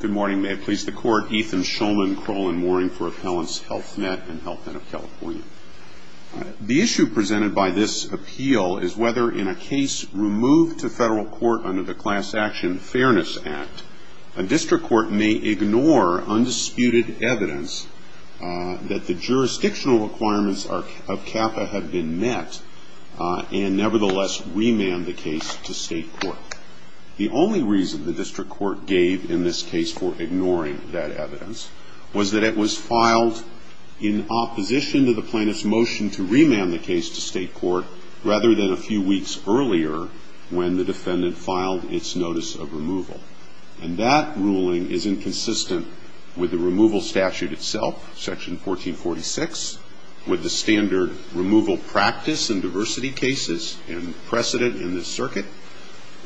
Good morning. May it please the Court. Ethan Shulman, Kroll & Mooring for Appellants, Health Net, and Health Net of California. The issue presented by this appeal is whether, in a case removed to federal court under the Class Action Fairness Act, a district court may ignore undisputed evidence that the jurisdictional requirements of CAFA have been met and nevertheless remand the case to state court. The only reason the district court gave in this case for ignoring that evidence was that it was filed in opposition to the plaintiff's motion to remand the case to state court rather than a few weeks earlier when the defendant filed its notice of removal. And that ruling is inconsistent with the removal statute itself, Section 1446, with the standard removal practice in diversity cases and precedent in this circuit,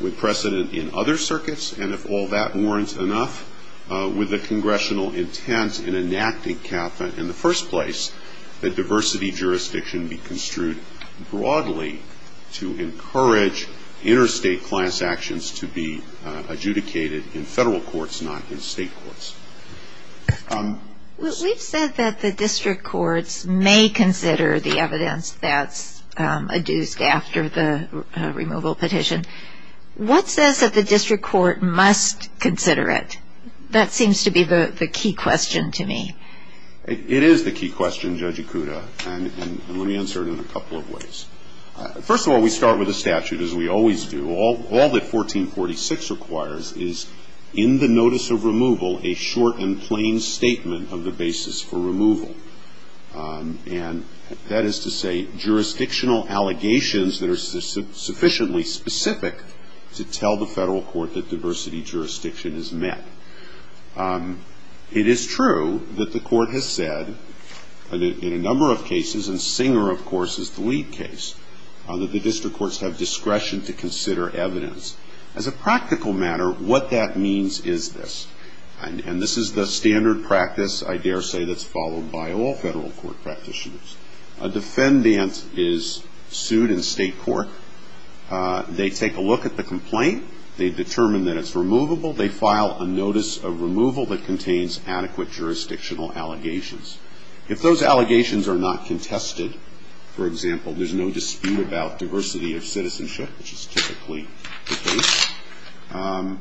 with precedent in other circuits, and if all that warrants enough, with the congressional intent in enacting CAFA in the first place, that diversity jurisdiction be construed broadly to encourage interstate class actions to be adjudicated in federal courts, not in state courts. We've said that the district courts may consider the evidence that's adduced after the removal petition. What says that the district court must consider it? That seems to be the key question to me. It is the key question, Judge Ikuda, and let me answer it in a couple of ways. First of all, we start with the statute, as we always do. All that 1446 requires is in the notice of removal a short and plain statement of the basis for removal. And that is to say jurisdictional allegations that are sufficiently specific to tell the federal court that diversity jurisdiction is met. It is true that the court has said in a number of cases, and Singer, of course, is the lead case, that the district courts have discretion to consider evidence. As a practical matter, what that means is this, and this is the standard practice, I dare say, that's followed by all federal court practitioners. A defendant is sued in state court. They take a look at the complaint. They determine that it's removable. They file a notice of removal that contains adequate jurisdictional allegations. If those allegations are not contested, for example, there's no dispute about diversity of citizenship, which is typically the case,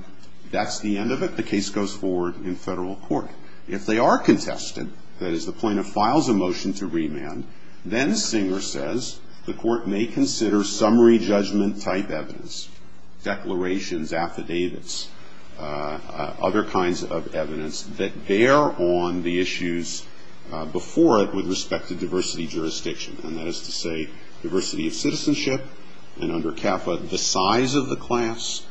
that's the end of it. The case goes forward in federal court. If they are contested, that is, the plaintiff files a motion to remand, then Singer says the court may consider summary judgment type evidence, declarations, affidavits, other kinds of evidence that bear on the issues before it with respect to diversity jurisdiction, and that is to say diversity of citizenship, and under CAFA, the size of the class,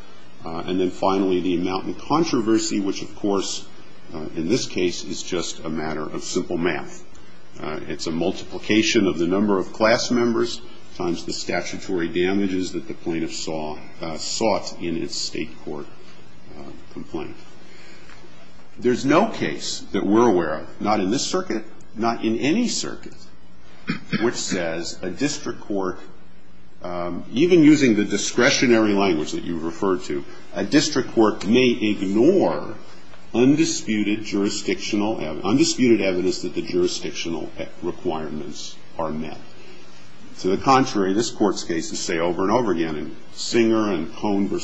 and then finally the amount in controversy, which, of course, in this case, is just a matter of simple math. It's a multiplication of the number of class members times the statutory damages that the plaintiff sought in its state court complaint. There's no case that we're aware of, not in this circuit, not in any circuit, which says a district court, even using the discretionary language that you referred to, a district court may ignore undisputed jurisdictional evidence, undisputed evidence that the jurisdictional requirements are met. To the contrary, this court's cases say over and over again, and Singer and Cohn v.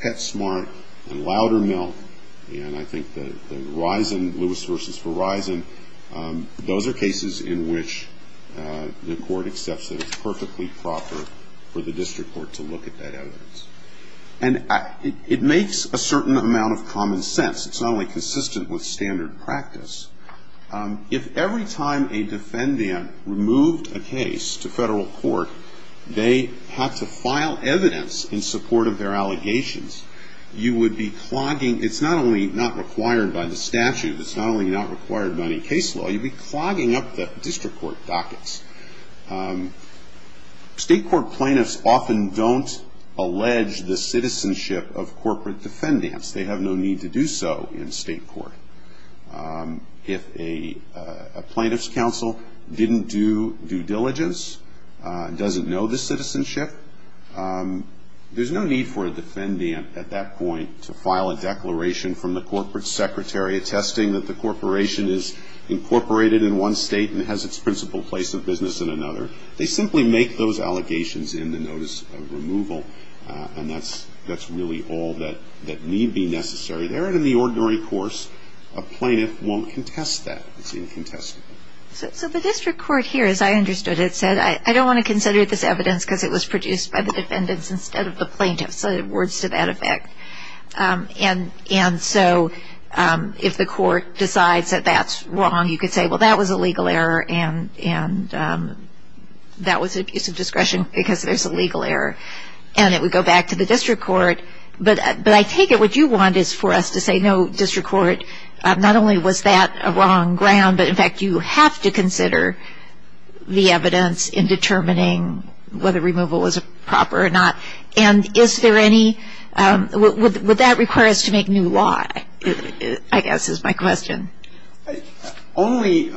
Petsmart and Loudermilk, and I think the Risen, Lewis v. Verizon, those are cases in which the court accepts that it's perfectly proper for the district court to look at that evidence. And it makes a certain amount of common sense. It's not only consistent with standard practice. If every time a defendant removed a case to federal court, they had to file evidence in support of their allegations, you would be clogging. It's not only not required by the statute. It's not only not required by any case law. You'd be clogging up the district court dockets. State court plaintiffs often don't allege the citizenship of corporate defendants. They have no need to do so in state court. If a plaintiff's counsel didn't do due diligence, doesn't know the citizenship, there's no need for a defendant at that point to file a declaration from the corporate secretary attesting that the corporation is incorporated in one state and has its principal place of business in another. They simply make those allegations in the notice of removal, and that's really all that may be necessary. They're in the ordinary course. A plaintiff won't contest that. It's incontestable. So the district court here, as I understood it, said, I don't want to consider this evidence because it was produced by the defendants instead of the plaintiffs. So words to that effect. And so if the court decides that that's wrong, you could say, well, that was a legal error, and that was an abuse of discretion because there's a legal error, and it would go back to the district court. But I take it what you want is for us to say, no, district court, not only was that a wrong ground, but, in fact, you have to consider the evidence in determining whether removal was proper or not. And is there any – would that require us to make new law, I guess, is my question. Only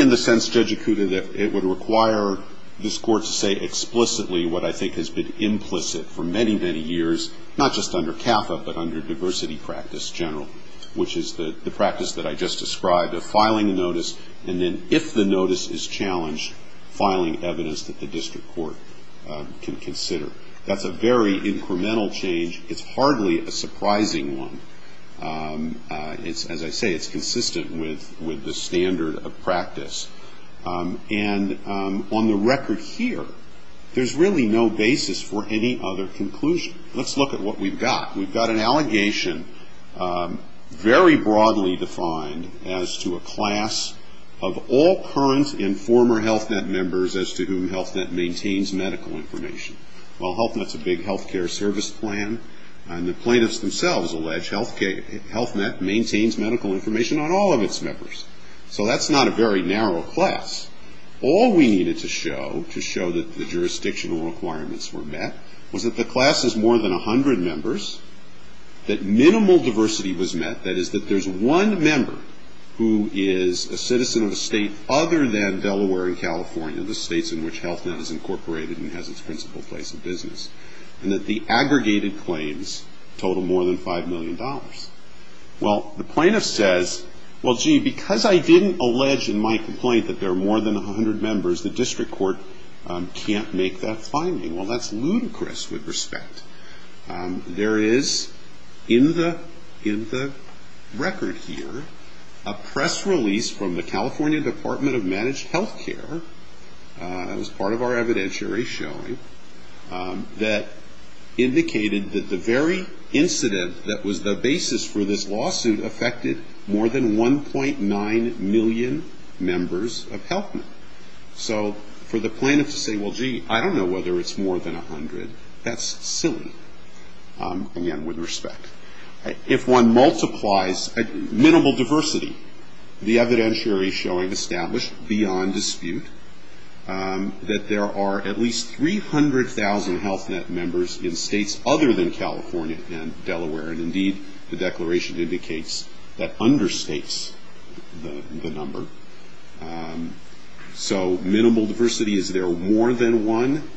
in the sense, Judge Acuda, that it would require this Court to say explicitly what I think has been implicit for many, many years, not just under CAFA, but under diversity practice general, which is the practice that I just described of filing a notice and then, if the notice is challenged, filing evidence that the district court can consider. That's a very incremental change. It's hardly a surprising one. As I say, it's consistent with the standard of practice. And on the record here, there's really no basis for any other conclusion. Let's look at what we've got. We've got an allegation very broadly defined as to a class of all current and former HealthNet members as to whom HealthNet maintains medical information. Well, HealthNet's a big health care service plan, and the plaintiffs themselves allege HealthNet maintains medical information on all of its members. So that's not a very narrow class. All we needed to show to show that the jurisdictional requirements were met was that the class has more than 100 members, that minimal diversity was met, that is, that there's one member who is a citizen of a state other than Delaware and California, the states in which HealthNet is incorporated and has its principal place of business, and that the aggregated claims total more than $5 million. Well, the plaintiff says, well, gee, because I didn't allege in my complaint that there are more than 100 members, the district court can't make that finding. Well, that's ludicrous with respect. There is, in the record here, a press release from the California Department of Managed Health Care, as part of our evidentiary showing, that indicated that the very incident that was the basis for this lawsuit affected more than 1.9 million members of HealthNet. So for the plaintiff to say, well, gee, I don't know whether it's more than 100, that's silly, again, with respect. If one multiplies minimal diversity, the evidentiary showing established beyond dispute that there are at least 300,000 HealthNet members in states other than California and Delaware, and indeed the declaration indicates that understates the number. So minimal diversity, is there more than one?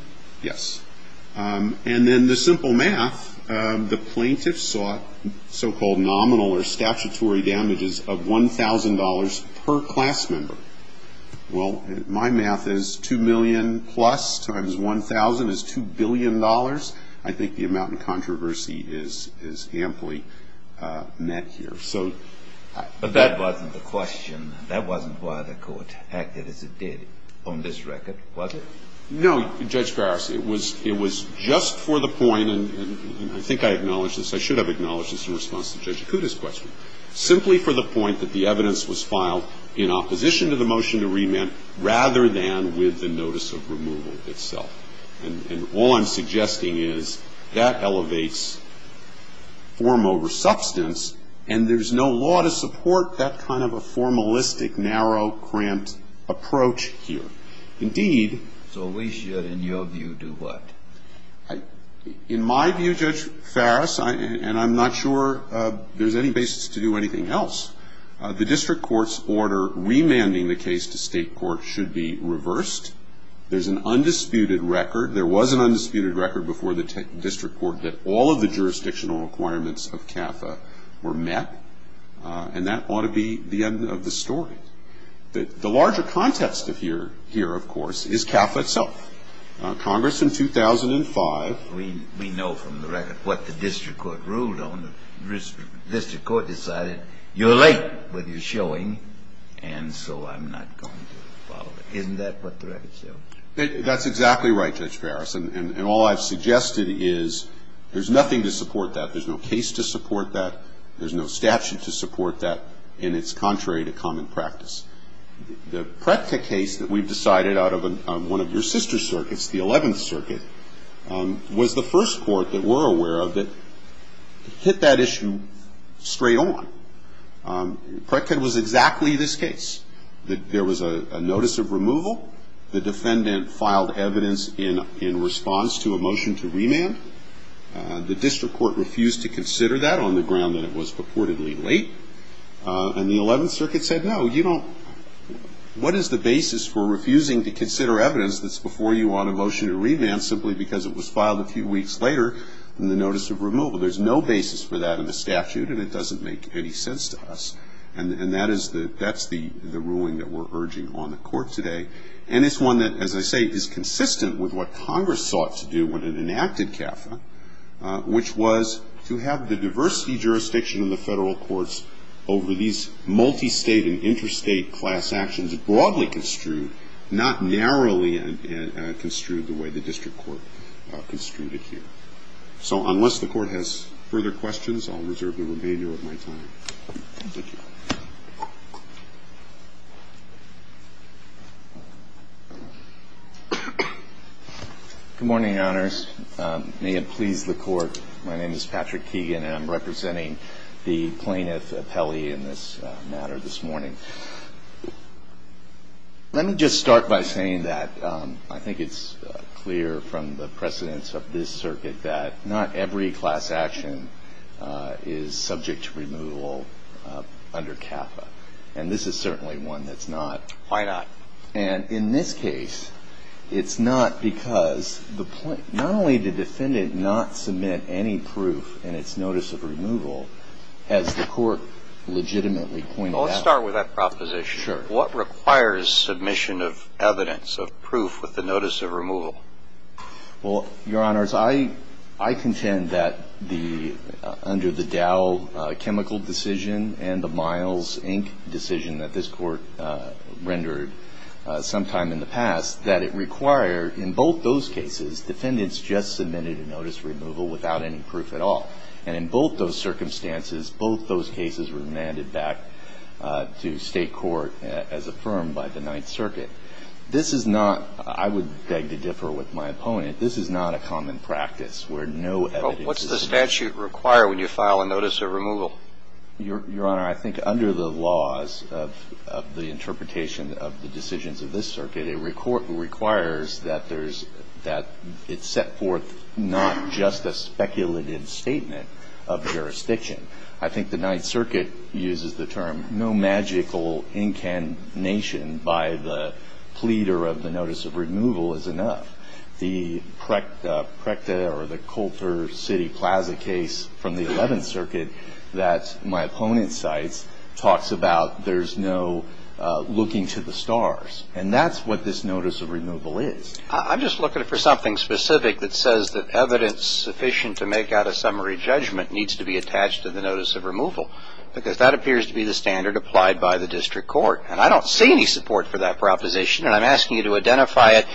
Yes. And then the simple math, the plaintiff sought so-called nominal or statutory damages of $1,000 per class member. Well, my math is 2 million plus times 1,000 is $2 billion. I think the amount in controversy is amply met here. But that wasn't the question. That wasn't why the court acted as it did on this record, was it? No, Judge Garris. It was just for the point, and I think I acknowledged this. I should have acknowledged this in response to Judge Acuda's question. Simply for the point that the evidence was filed in opposition to the motion to remand rather than with the notice of removal itself. And all I'm suggesting is that elevates form over substance, and there's no law to support that kind of a formalistic, narrow, cramped approach here. Indeed. So we should, in your view, do what? In my view, Judge Farris, and I'm not sure there's any basis to do anything else, the district court's order remanding the case to state court should be reversed. There's an undisputed record. There was an undisputed record before the district court that all of the jurisdictional requirements of CAFA were met, and that ought to be the end of the story. The larger context here, of course, is CAFA itself. Congress in 2005. We know from the record what the district court ruled on. The district court decided you're late with your showing, and so I'm not going to follow it. Isn't that what the record shows? That's exactly right, Judge Farris, and all I've suggested is there's nothing to support that. There's no case to support that. There's no statute to support that, and it's contrary to common practice. The PRECTA case that we've decided out of one of your sister circuits, the 11th Circuit, was the first court that we're aware of that hit that issue straight on. PRECTA was exactly this case. There was a notice of removal. The defendant filed evidence in response to a motion to remand. The district court refused to consider that on the ground that it was purportedly late, and the 11th Circuit said, no, you don't. What is the basis for refusing to consider evidence that's before you on a motion to remand simply because it was filed a few weeks later in the notice of removal? There's no basis for that in the statute, and it doesn't make any sense to us, and that's the ruling that we're urging on the court today, and it's one that, as I say, is consistent with what Congress sought to do when it enacted CAFA, which was to have the diversity jurisdiction in the federal courts over these multistate and interstate class actions broadly construed, not narrowly construed the way the district court construed it here. So unless the Court has further questions, I'll reserve the remainder of my time. Thank you. Good morning, Your Honors. May it please the Court, my name is Patrick Keegan, and I'm representing the plaintiff, Apelli, in this matter this morning. Let me just start by saying that I think it's clear from the precedence of this circuit that not every class action is subject to removal under CAFA, and this is certainly one that's not. Why not? And in this case, it's not because the plaintiff, not only did the defendant not submit any proof in its notice of removal, as the Court legitimately pointed out. Well, let's start with that proposition. Sure. What requires submission of evidence of proof with the notice of removal? Well, Your Honors, I contend that under the Dow chemical decision and the Miles, Inc. decision that this Court rendered sometime in the past, that it required in both those cases, defendants just submitted a notice of removal without any proof at all. And in both those circumstances, both those cases were remanded back to State court as affirmed by the Ninth Circuit. This is not, I would beg to differ with my opponent, this is not a common practice where no evidence is submitted. Well, what's the statute require when you file a notice of removal? Your Honor, I think under the laws of the interpretation of the decisions of this I think the Ninth Circuit uses the term, no magical incantation by the pleader of the notice of removal is enough. The PRECTA or the Coulter City Plaza case from the Eleventh Circuit that my opponent cites talks about there's no looking to the stars. And that's what this notice of removal is. I'm just looking for something specific that says that evidence sufficient to make out a summary judgment needs to be attached to the notice of removal. Because that appears to be the standard applied by the district court. And I don't see any support for that proposition. And I'm asking you to identify it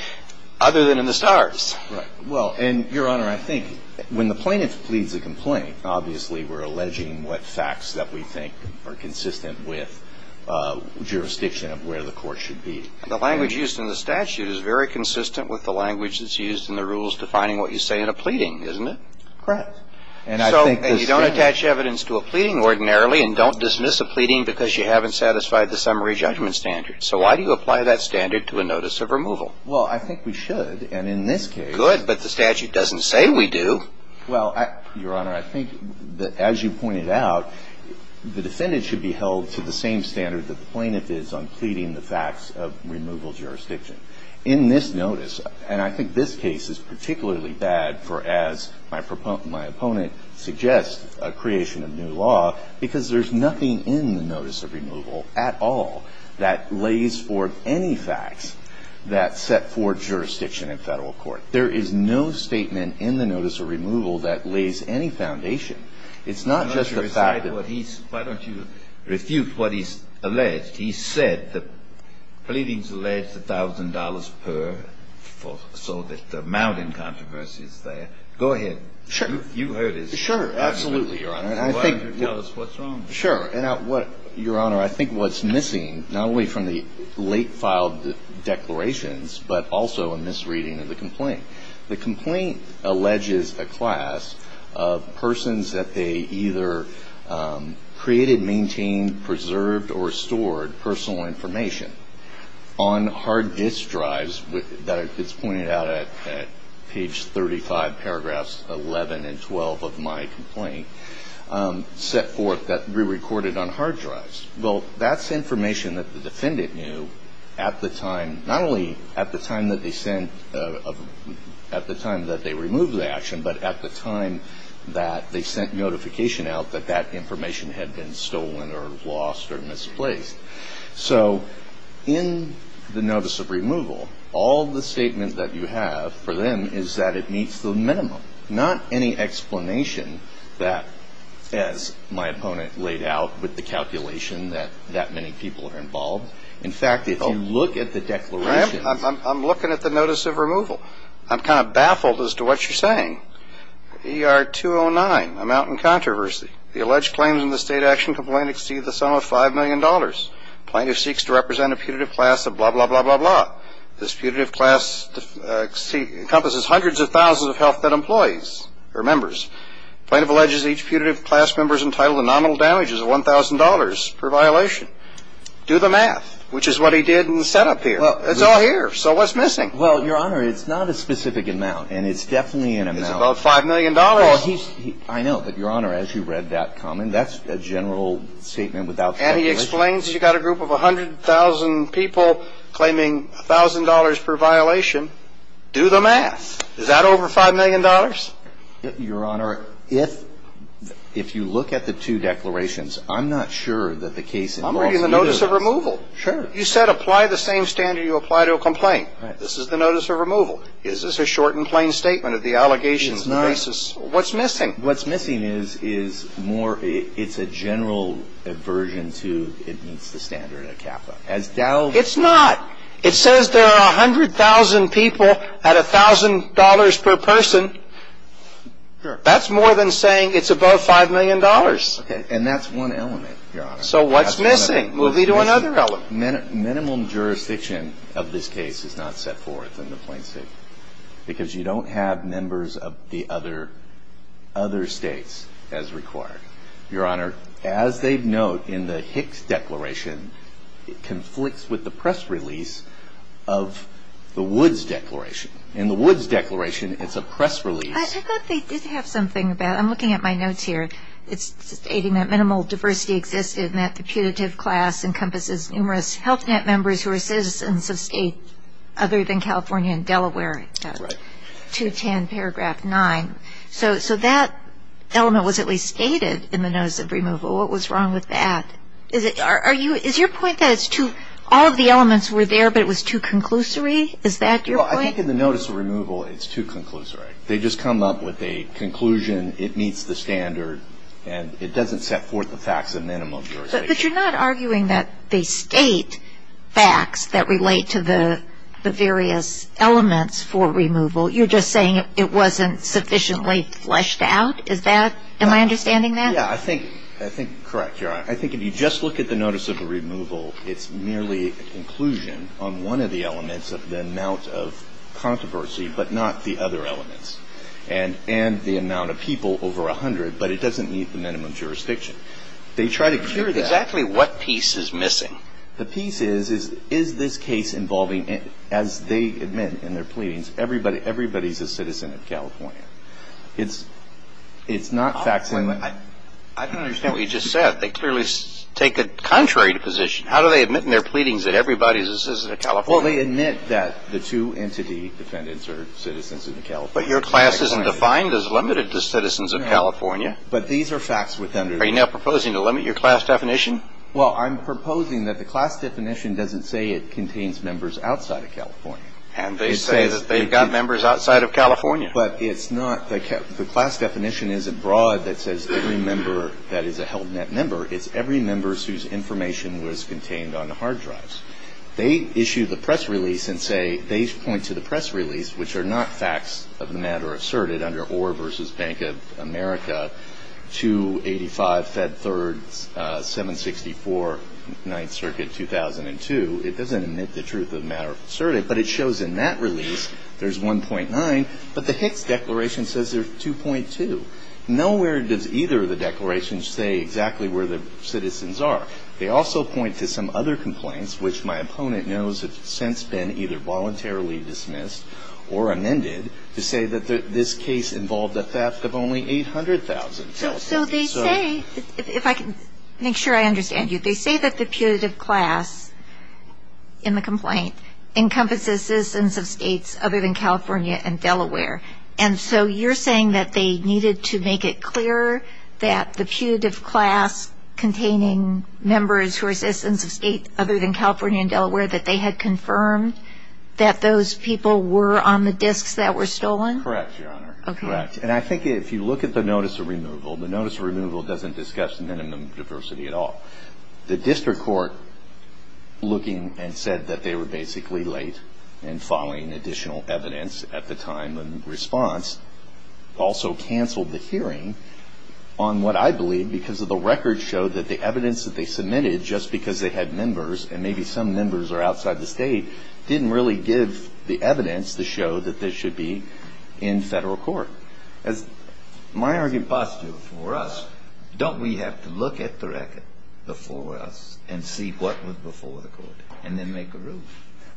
other than in the stars. Right. Well, and Your Honor, I think when the plaintiff pleads a complaint, obviously we're alleging what facts that we think are consistent with jurisdiction of where the court should be. The language used in the statute is very consistent with the language that's used in the rules defining what you say in a pleading, isn't it? Correct. And I think the standard. So you don't attach evidence to a pleading ordinarily and don't dismiss a pleading because you haven't satisfied the summary judgment standard. So why do you apply that standard to a notice of removal? Well, I think we should. And in this case. Good. But the statute doesn't say we do. Well, Your Honor, I think that as you pointed out, the defendant should be held to the same standard that the plaintiff is on pleading the facts of removal jurisdiction. In this notice, and I think this case is particularly bad for as my opponent suggests a creation of new law, because there's nothing in the notice of removal at all that lays forth any facts that set forth jurisdiction in Federal court. There is no statement in the notice of removal that lays any foundation. It's not just the fact that. Why don't you refute what is alleged? He said that pleadings allege $1,000 per so that the mounting controversy is there. Go ahead. Sure. You heard his argument. Sure. Absolutely, Your Honor. Why don't you tell us what's wrong? Sure. Your Honor, I think what's missing, not only from the late filed declarations, but also a misreading of the complaint. The complaint alleges a class of persons that they either created, maintained, preserved, or stored personal information on hard disk drives that it's pointed out at page 35, paragraphs 11 and 12 of my complaint, set forth that were recorded on hard drives. Well, that's information that the defendant knew at the time, not only at the time that they sent, at the time that they removed the action, but at the time that they had been stolen or lost or misplaced. So in the notice of removal, all the statements that you have for them is that it meets the minimum, not any explanation that, as my opponent laid out with the calculation, that that many people are involved. In fact, if you look at the declaration. I'm looking at the notice of removal. I'm kind of baffled as to what you're saying. ER 209, a mounting controversy. The alleged claims in the state action complaint exceed the sum of $5 million. Plaintiff seeks to represent a putative class of blah, blah, blah, blah, blah. This putative class encompasses hundreds of thousands of healthcare employees or members. Plaintiff alleges each putative class member is entitled to nominal damages of $1,000 per violation. Do the math, which is what he did in the setup here. It's all here. So what's missing? Well, Your Honor, it's not a specific amount, and it's definitely an amount. It's about $5 million. I know, but, Your Honor, as you read that comment, that's a general statement without speculation. And he explains you've got a group of 100,000 people claiming $1,000 per violation. Do the math. Is that over $5 million? Your Honor, if you look at the two declarations, I'm not sure that the case involves either of those. I'm reading the notice of removal. Sure. You said apply the same standard you apply to a complaint. Right. This is the notice of removal. Is this a short and plain statement of the allegations and the basis? It's not. What's missing? What's missing is more it's a general aversion to it meets the standard at CAFA. It's not. It says there are 100,000 people at $1,000 per person. Sure. That's more than saying it's above $5 million. Okay. And that's one element, Your Honor. So what's missing? Move you to another element. Minimum jurisdiction of this case is not set forth in the plain statement because you don't have members of the other states as required. Your Honor, as they note in the Hicks declaration, it conflicts with the press release of the Woods declaration. In the Woods declaration, it's a press release. I thought they did have something about it. I'm looking at my notes here. It's stating that minimal diversity existed and that the putative class encompasses numerous Health Net members who are citizens of states other than California and Delaware. Right. 210 paragraph 9. So that element was at least stated in the notice of removal. What was wrong with that? Is your point that all of the elements were there, but it was too conclusory? Is that your point? Well, I think in the notice of removal, it's too conclusory. They just come up with a conclusion, it meets the standard, and it doesn't set forth the facts of minimum jurisdiction. But you're not arguing that they state facts that relate to the various elements for removal. You're just saying it wasn't sufficiently fleshed out. Am I understanding that? Yeah, I think you're correct, Your Honor. I think if you just look at the notice of removal, it's merely a conclusion on one of the elements of the amount of controversy, but not the other elements, and the amount of people over 100, but it doesn't meet the minimum jurisdiction. They try to cure that. Exactly what piece is missing? The piece is, is this case involving, as they admit in their pleadings, everybody's a citizen of California. It's not facts and legislation. I don't understand what you just said. They clearly take a contrary position. How do they admit in their pleadings that everybody's a citizen of California? Well, they admit that the two entity defendants are citizens of California. But your class isn't defined as limited to citizens of California. No. But these are facts within their definition. Are you now proposing to limit your class definition? Well, I'm proposing that the class definition doesn't say it contains members outside of California. And they say that they've got members outside of California. But it's not, the class definition isn't broad that says every member that is a held net member. It's every member whose information was contained on the hard drives. They issue the press release and say, they point to the press release, which are not facts of the matter asserted under Orr v. Bank of America, 285, Fed Third, 764, 9th Circuit, 2002. It doesn't admit the truth of the matter asserted. But it shows in that release there's 1.9. But the Hicks Declaration says there's 2.2. Nowhere does either of the declarations say exactly where the citizens are. They also point to some other complaints, which my opponent knows have since been either voluntarily dismissed or amended, to say that this case involved a theft of only 800,000. So they say, if I can make sure I understand you, they say that the putative class in the complaint encompasses citizens of states other than California and Delaware. And so you're saying that they needed to make it clear that the putative class containing members who are citizens of states other than California and Delaware, that they had confirmed that those people were on the disks that were stolen? Correct, Your Honor. Correct. And I think if you look at the notice of removal, the notice of removal doesn't discuss minimum diversity at all. The district court, looking and said that they were basically late and following additional evidence at the time of response, also canceled the hearing on what I believe, because of the record showed that the evidence that they submitted, just because they had members, and maybe some members are outside the state, didn't really give the evidence to show that this should be in federal court. My argument for us, don't we have to look at the record before us and see what was before the court and then make a ruling?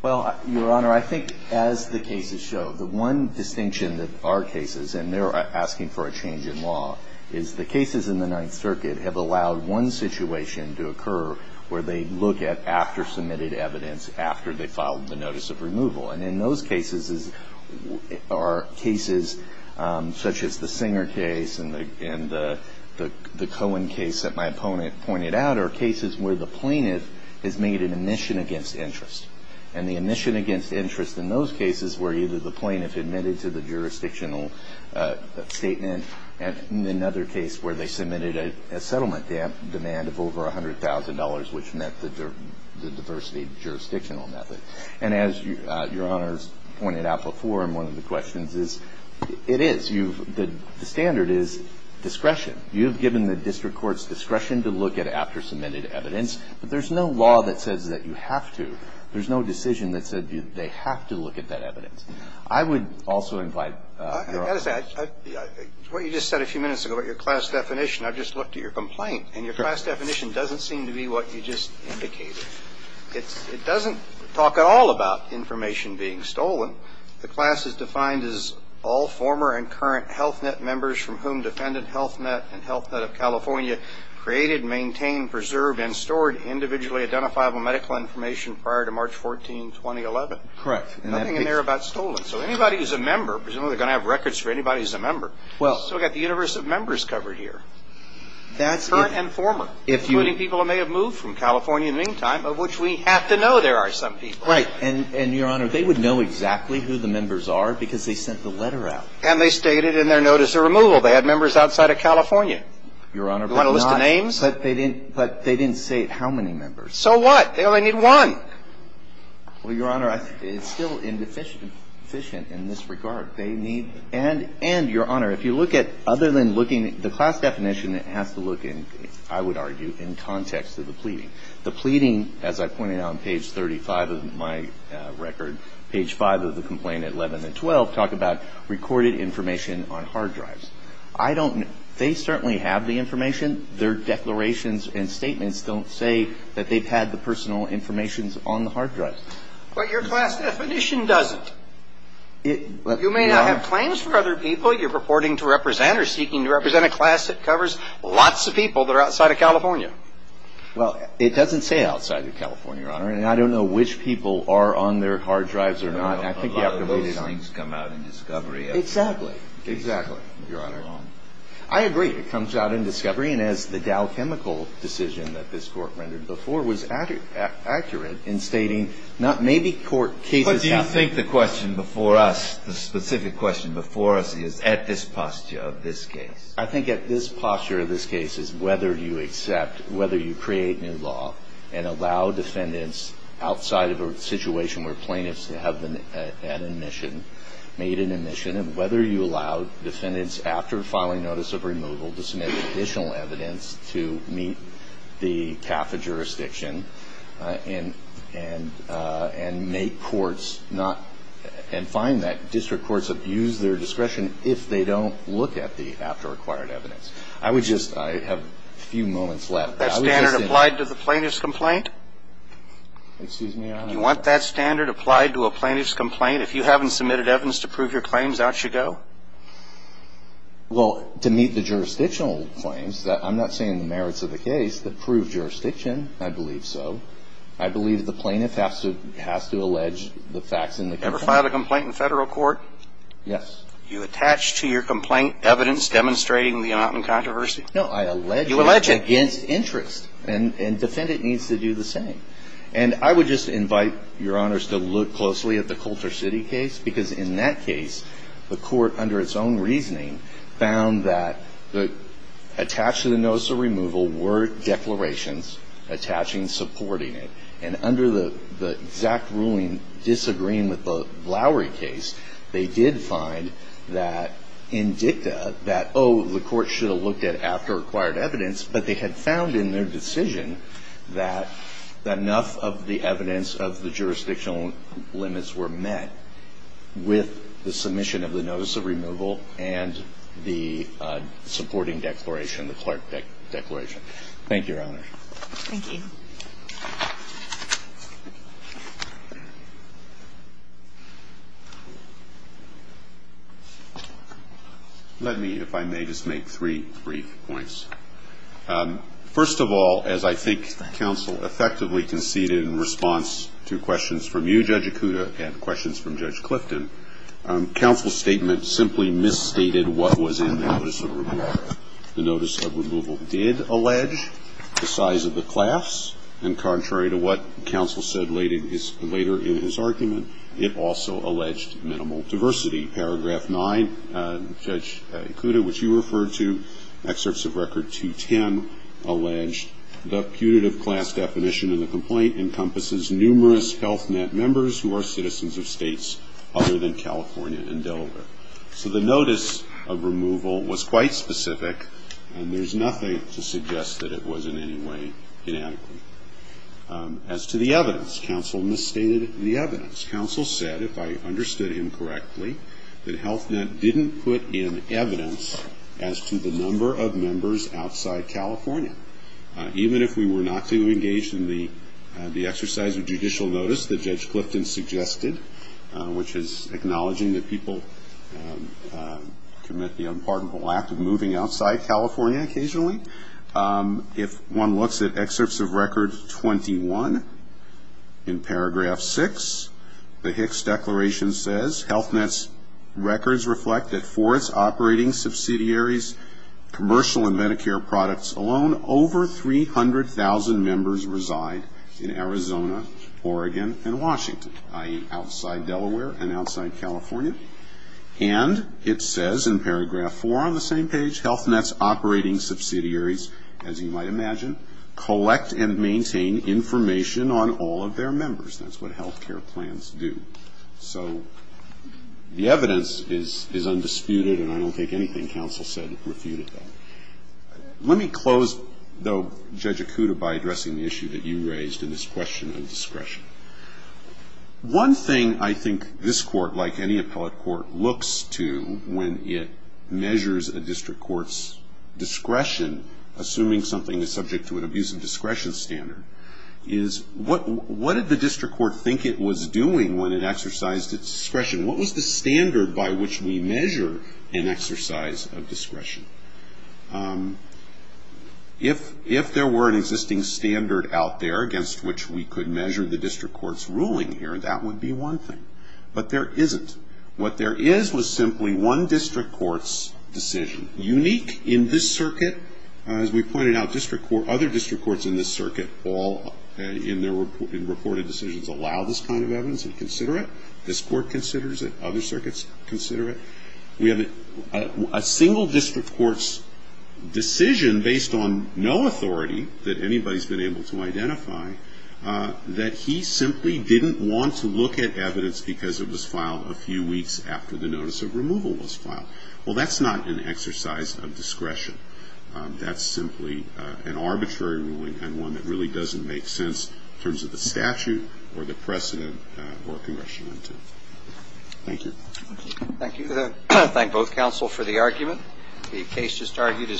Well, Your Honor, I think as the cases show, the one distinction that our cases, and they're asking for a change in law, is the cases in the Ninth Circuit have allowed one situation to occur where they look at after submitted evidence, after they filed the notice of removal. And in those cases are cases such as the Singer case and the Cohen case that my opponent pointed out, are cases where the plaintiff has made an admission against interest. And the admission against interest in those cases were either the plaintiff admitted to the jurisdictional statement, and in another case where they submitted a settlement demand of over $100,000, which met the diversity jurisdictional method. And as Your Honor's pointed out before in one of the questions is, it is. You've the standard is discretion. You've given the district court's discretion to look at after submitted evidence, but there's no law that says that you have to. There's no decision that said they have to look at that evidence. I would also invite Your Honor. What you just said a few minutes ago about your class definition, I've just looked at your complaint, and your class definition doesn't seem to be what you just indicated. It doesn't talk at all about information being stolen. The class is defined as all former and current Health Net members from whom defendant Health Net and Health Net of California created, maintained, preserved, and stored individually identifiable medical information prior to March 14, 2011. Correct. Nothing in there about stolen. So anybody who's a member, presumably they're going to have records for anybody who's a member, still got the universe of members covered here. Current and former. Now, if you need people who may have moved from California in the meantime, of which we have to know there are some people. Right. And, Your Honor, they would know exactly who the members are because they sent the letter out. And they stated in their notice of removal they had members outside of California. Your Honor, but not But they didn't say how many members. So what? They only need one. Well, Your Honor, it's still indeficient in this regard. They need And, Your Honor, if you look at other than looking at the class definition that has to look in, I would argue, in context of the pleading. The pleading, as I pointed out on page 35 of my record, page 5 of the complaint, 11 and 12, talk about recorded information on hard drives. I don't know. They certainly have the information. Their declarations and statements don't say that they've had the personal information on the hard drive. But your class definition doesn't. It, Your Honor. You may not have claims for other people. But you're purporting to represent or seeking to represent a class that covers lots of people that are outside of California. Well, it doesn't say outside of California, Your Honor. And I don't know which people are on their hard drives or not. I think you have to read it on. A lot of those things come out in discovery. Exactly. Exactly. Your Honor. I agree. It comes out in discovery. And as the Dow chemical decision that this Court rendered before was accurate in stating maybe court cases Do you think the question before us, the specific question before us is at this posture of this case? I think at this posture of this case is whether you accept, whether you create new law and allow defendants outside of a situation where plaintiffs have been at admission, made an admission, and whether you allow defendants after filing notice of removal to submit additional evidence to meet the CAFA jurisdiction and make courts not, and find that district courts abuse their discretion if they don't look at the after-acquired evidence. I would just, I have a few moments left. That standard applied to the plaintiff's complaint? Excuse me, Your Honor. Do you want that standard applied to a plaintiff's complaint? If you haven't submitted evidence to prove your claims, out you go? Well, to meet the jurisdictional claims, I'm not saying the merits of the case that prove jurisdiction. I believe so. I believe the plaintiff has to allege the facts in the complaint. Ever filed a complaint in Federal court? Yes. You attach to your complaint evidence demonstrating the amount in controversy? No, I allege it. You allege it. Against interest. And defendant needs to do the same. And I would just invite Your Honors to look closely at the Coulter City case because in that case, the court, under its own reasoning, found that attached to the notice of removal were declarations attaching supporting it. And under the exact ruling disagreeing with the Lowry case, they did find that in dicta that, oh, the court should have looked at after-acquired evidence, but they had found in their decision that enough of the evidence of the jurisdictional limits were met with the submission of the notice of removal and the supporting declaration, the clerk declaration. Thank you, Your Honor. Thank you. Let me, if I may, just make three brief points. First of all, as I think counsel effectively conceded in response to questions from you, Judge Ikuda, and questions from Judge Clifton, counsel's statement simply misstated what was in the notice of removal. The notice of removal did allege the size of the class, and contrary to what counsel said later in his argument, it also alleged minimal diversity. Paragraph 9, Judge Ikuda, which you referred to, excerpts of Record 210, alleged the putative class definition in the complaint encompasses numerous Health Net members who are citizens of states other than California and Delaware. So the notice of removal was quite specific, and there's nothing to suggest that it was in any way inadequate. As to the evidence, counsel misstated the evidence. Counsel said, if I understood him correctly, that Health Net didn't put in evidence as to the number of members outside California. Even if we were not to engage in the exercise of judicial notice that Judge Clifton suggested, which is acknowledging that people commit the unpardonable act of moving outside California occasionally, if one looks at excerpts of Record 21, in Paragraph 6, the Hicks Declaration says, Health Net's records reflect that for its operating subsidiaries, commercial and Medicare products alone, over 300,000 members reside in Arizona, Oregon, and Washington, i.e., outside Delaware and outside California. And it says in Paragraph 4 on the same page, Health Net's operating subsidiaries, as you might imagine, collect and maintain information on all of their members. That's what health care plans do. So the evidence is undisputed, and I don't think anything counsel said refuted that. Let me close, though, Judge Acuda, by addressing the issue that you raised in this question of discretion. One thing I think this court, like any appellate court, looks to when it measures a district court's discretion, assuming something is subject to an abuse of discretion standard, is what did the district court think it was doing when it exercised its discretion? What was the standard by which we measure an exercise of discretion? If there were an existing standard out there against which we could measure the district court's ruling here, that would be one thing. But there isn't. What there is was simply one district court's decision. Unique in this circuit, as we pointed out, other district courts in this circuit all, in their reported decisions, allow this kind of evidence and consider it. This court considers it. Other circuits consider it. We have a single district court's decision, based on no authority that anybody has been able to identify, that he simply didn't want to look at evidence because it was filed a few weeks after the notice of removal was filed. Well, that's not an exercise of discretion. That's simply an arbitrary ruling and one that really doesn't make sense in terms of the statute or the precedent or congressional intent. Thank you. Thank you. I thank both counsel for the argument. The case just argued is submitted.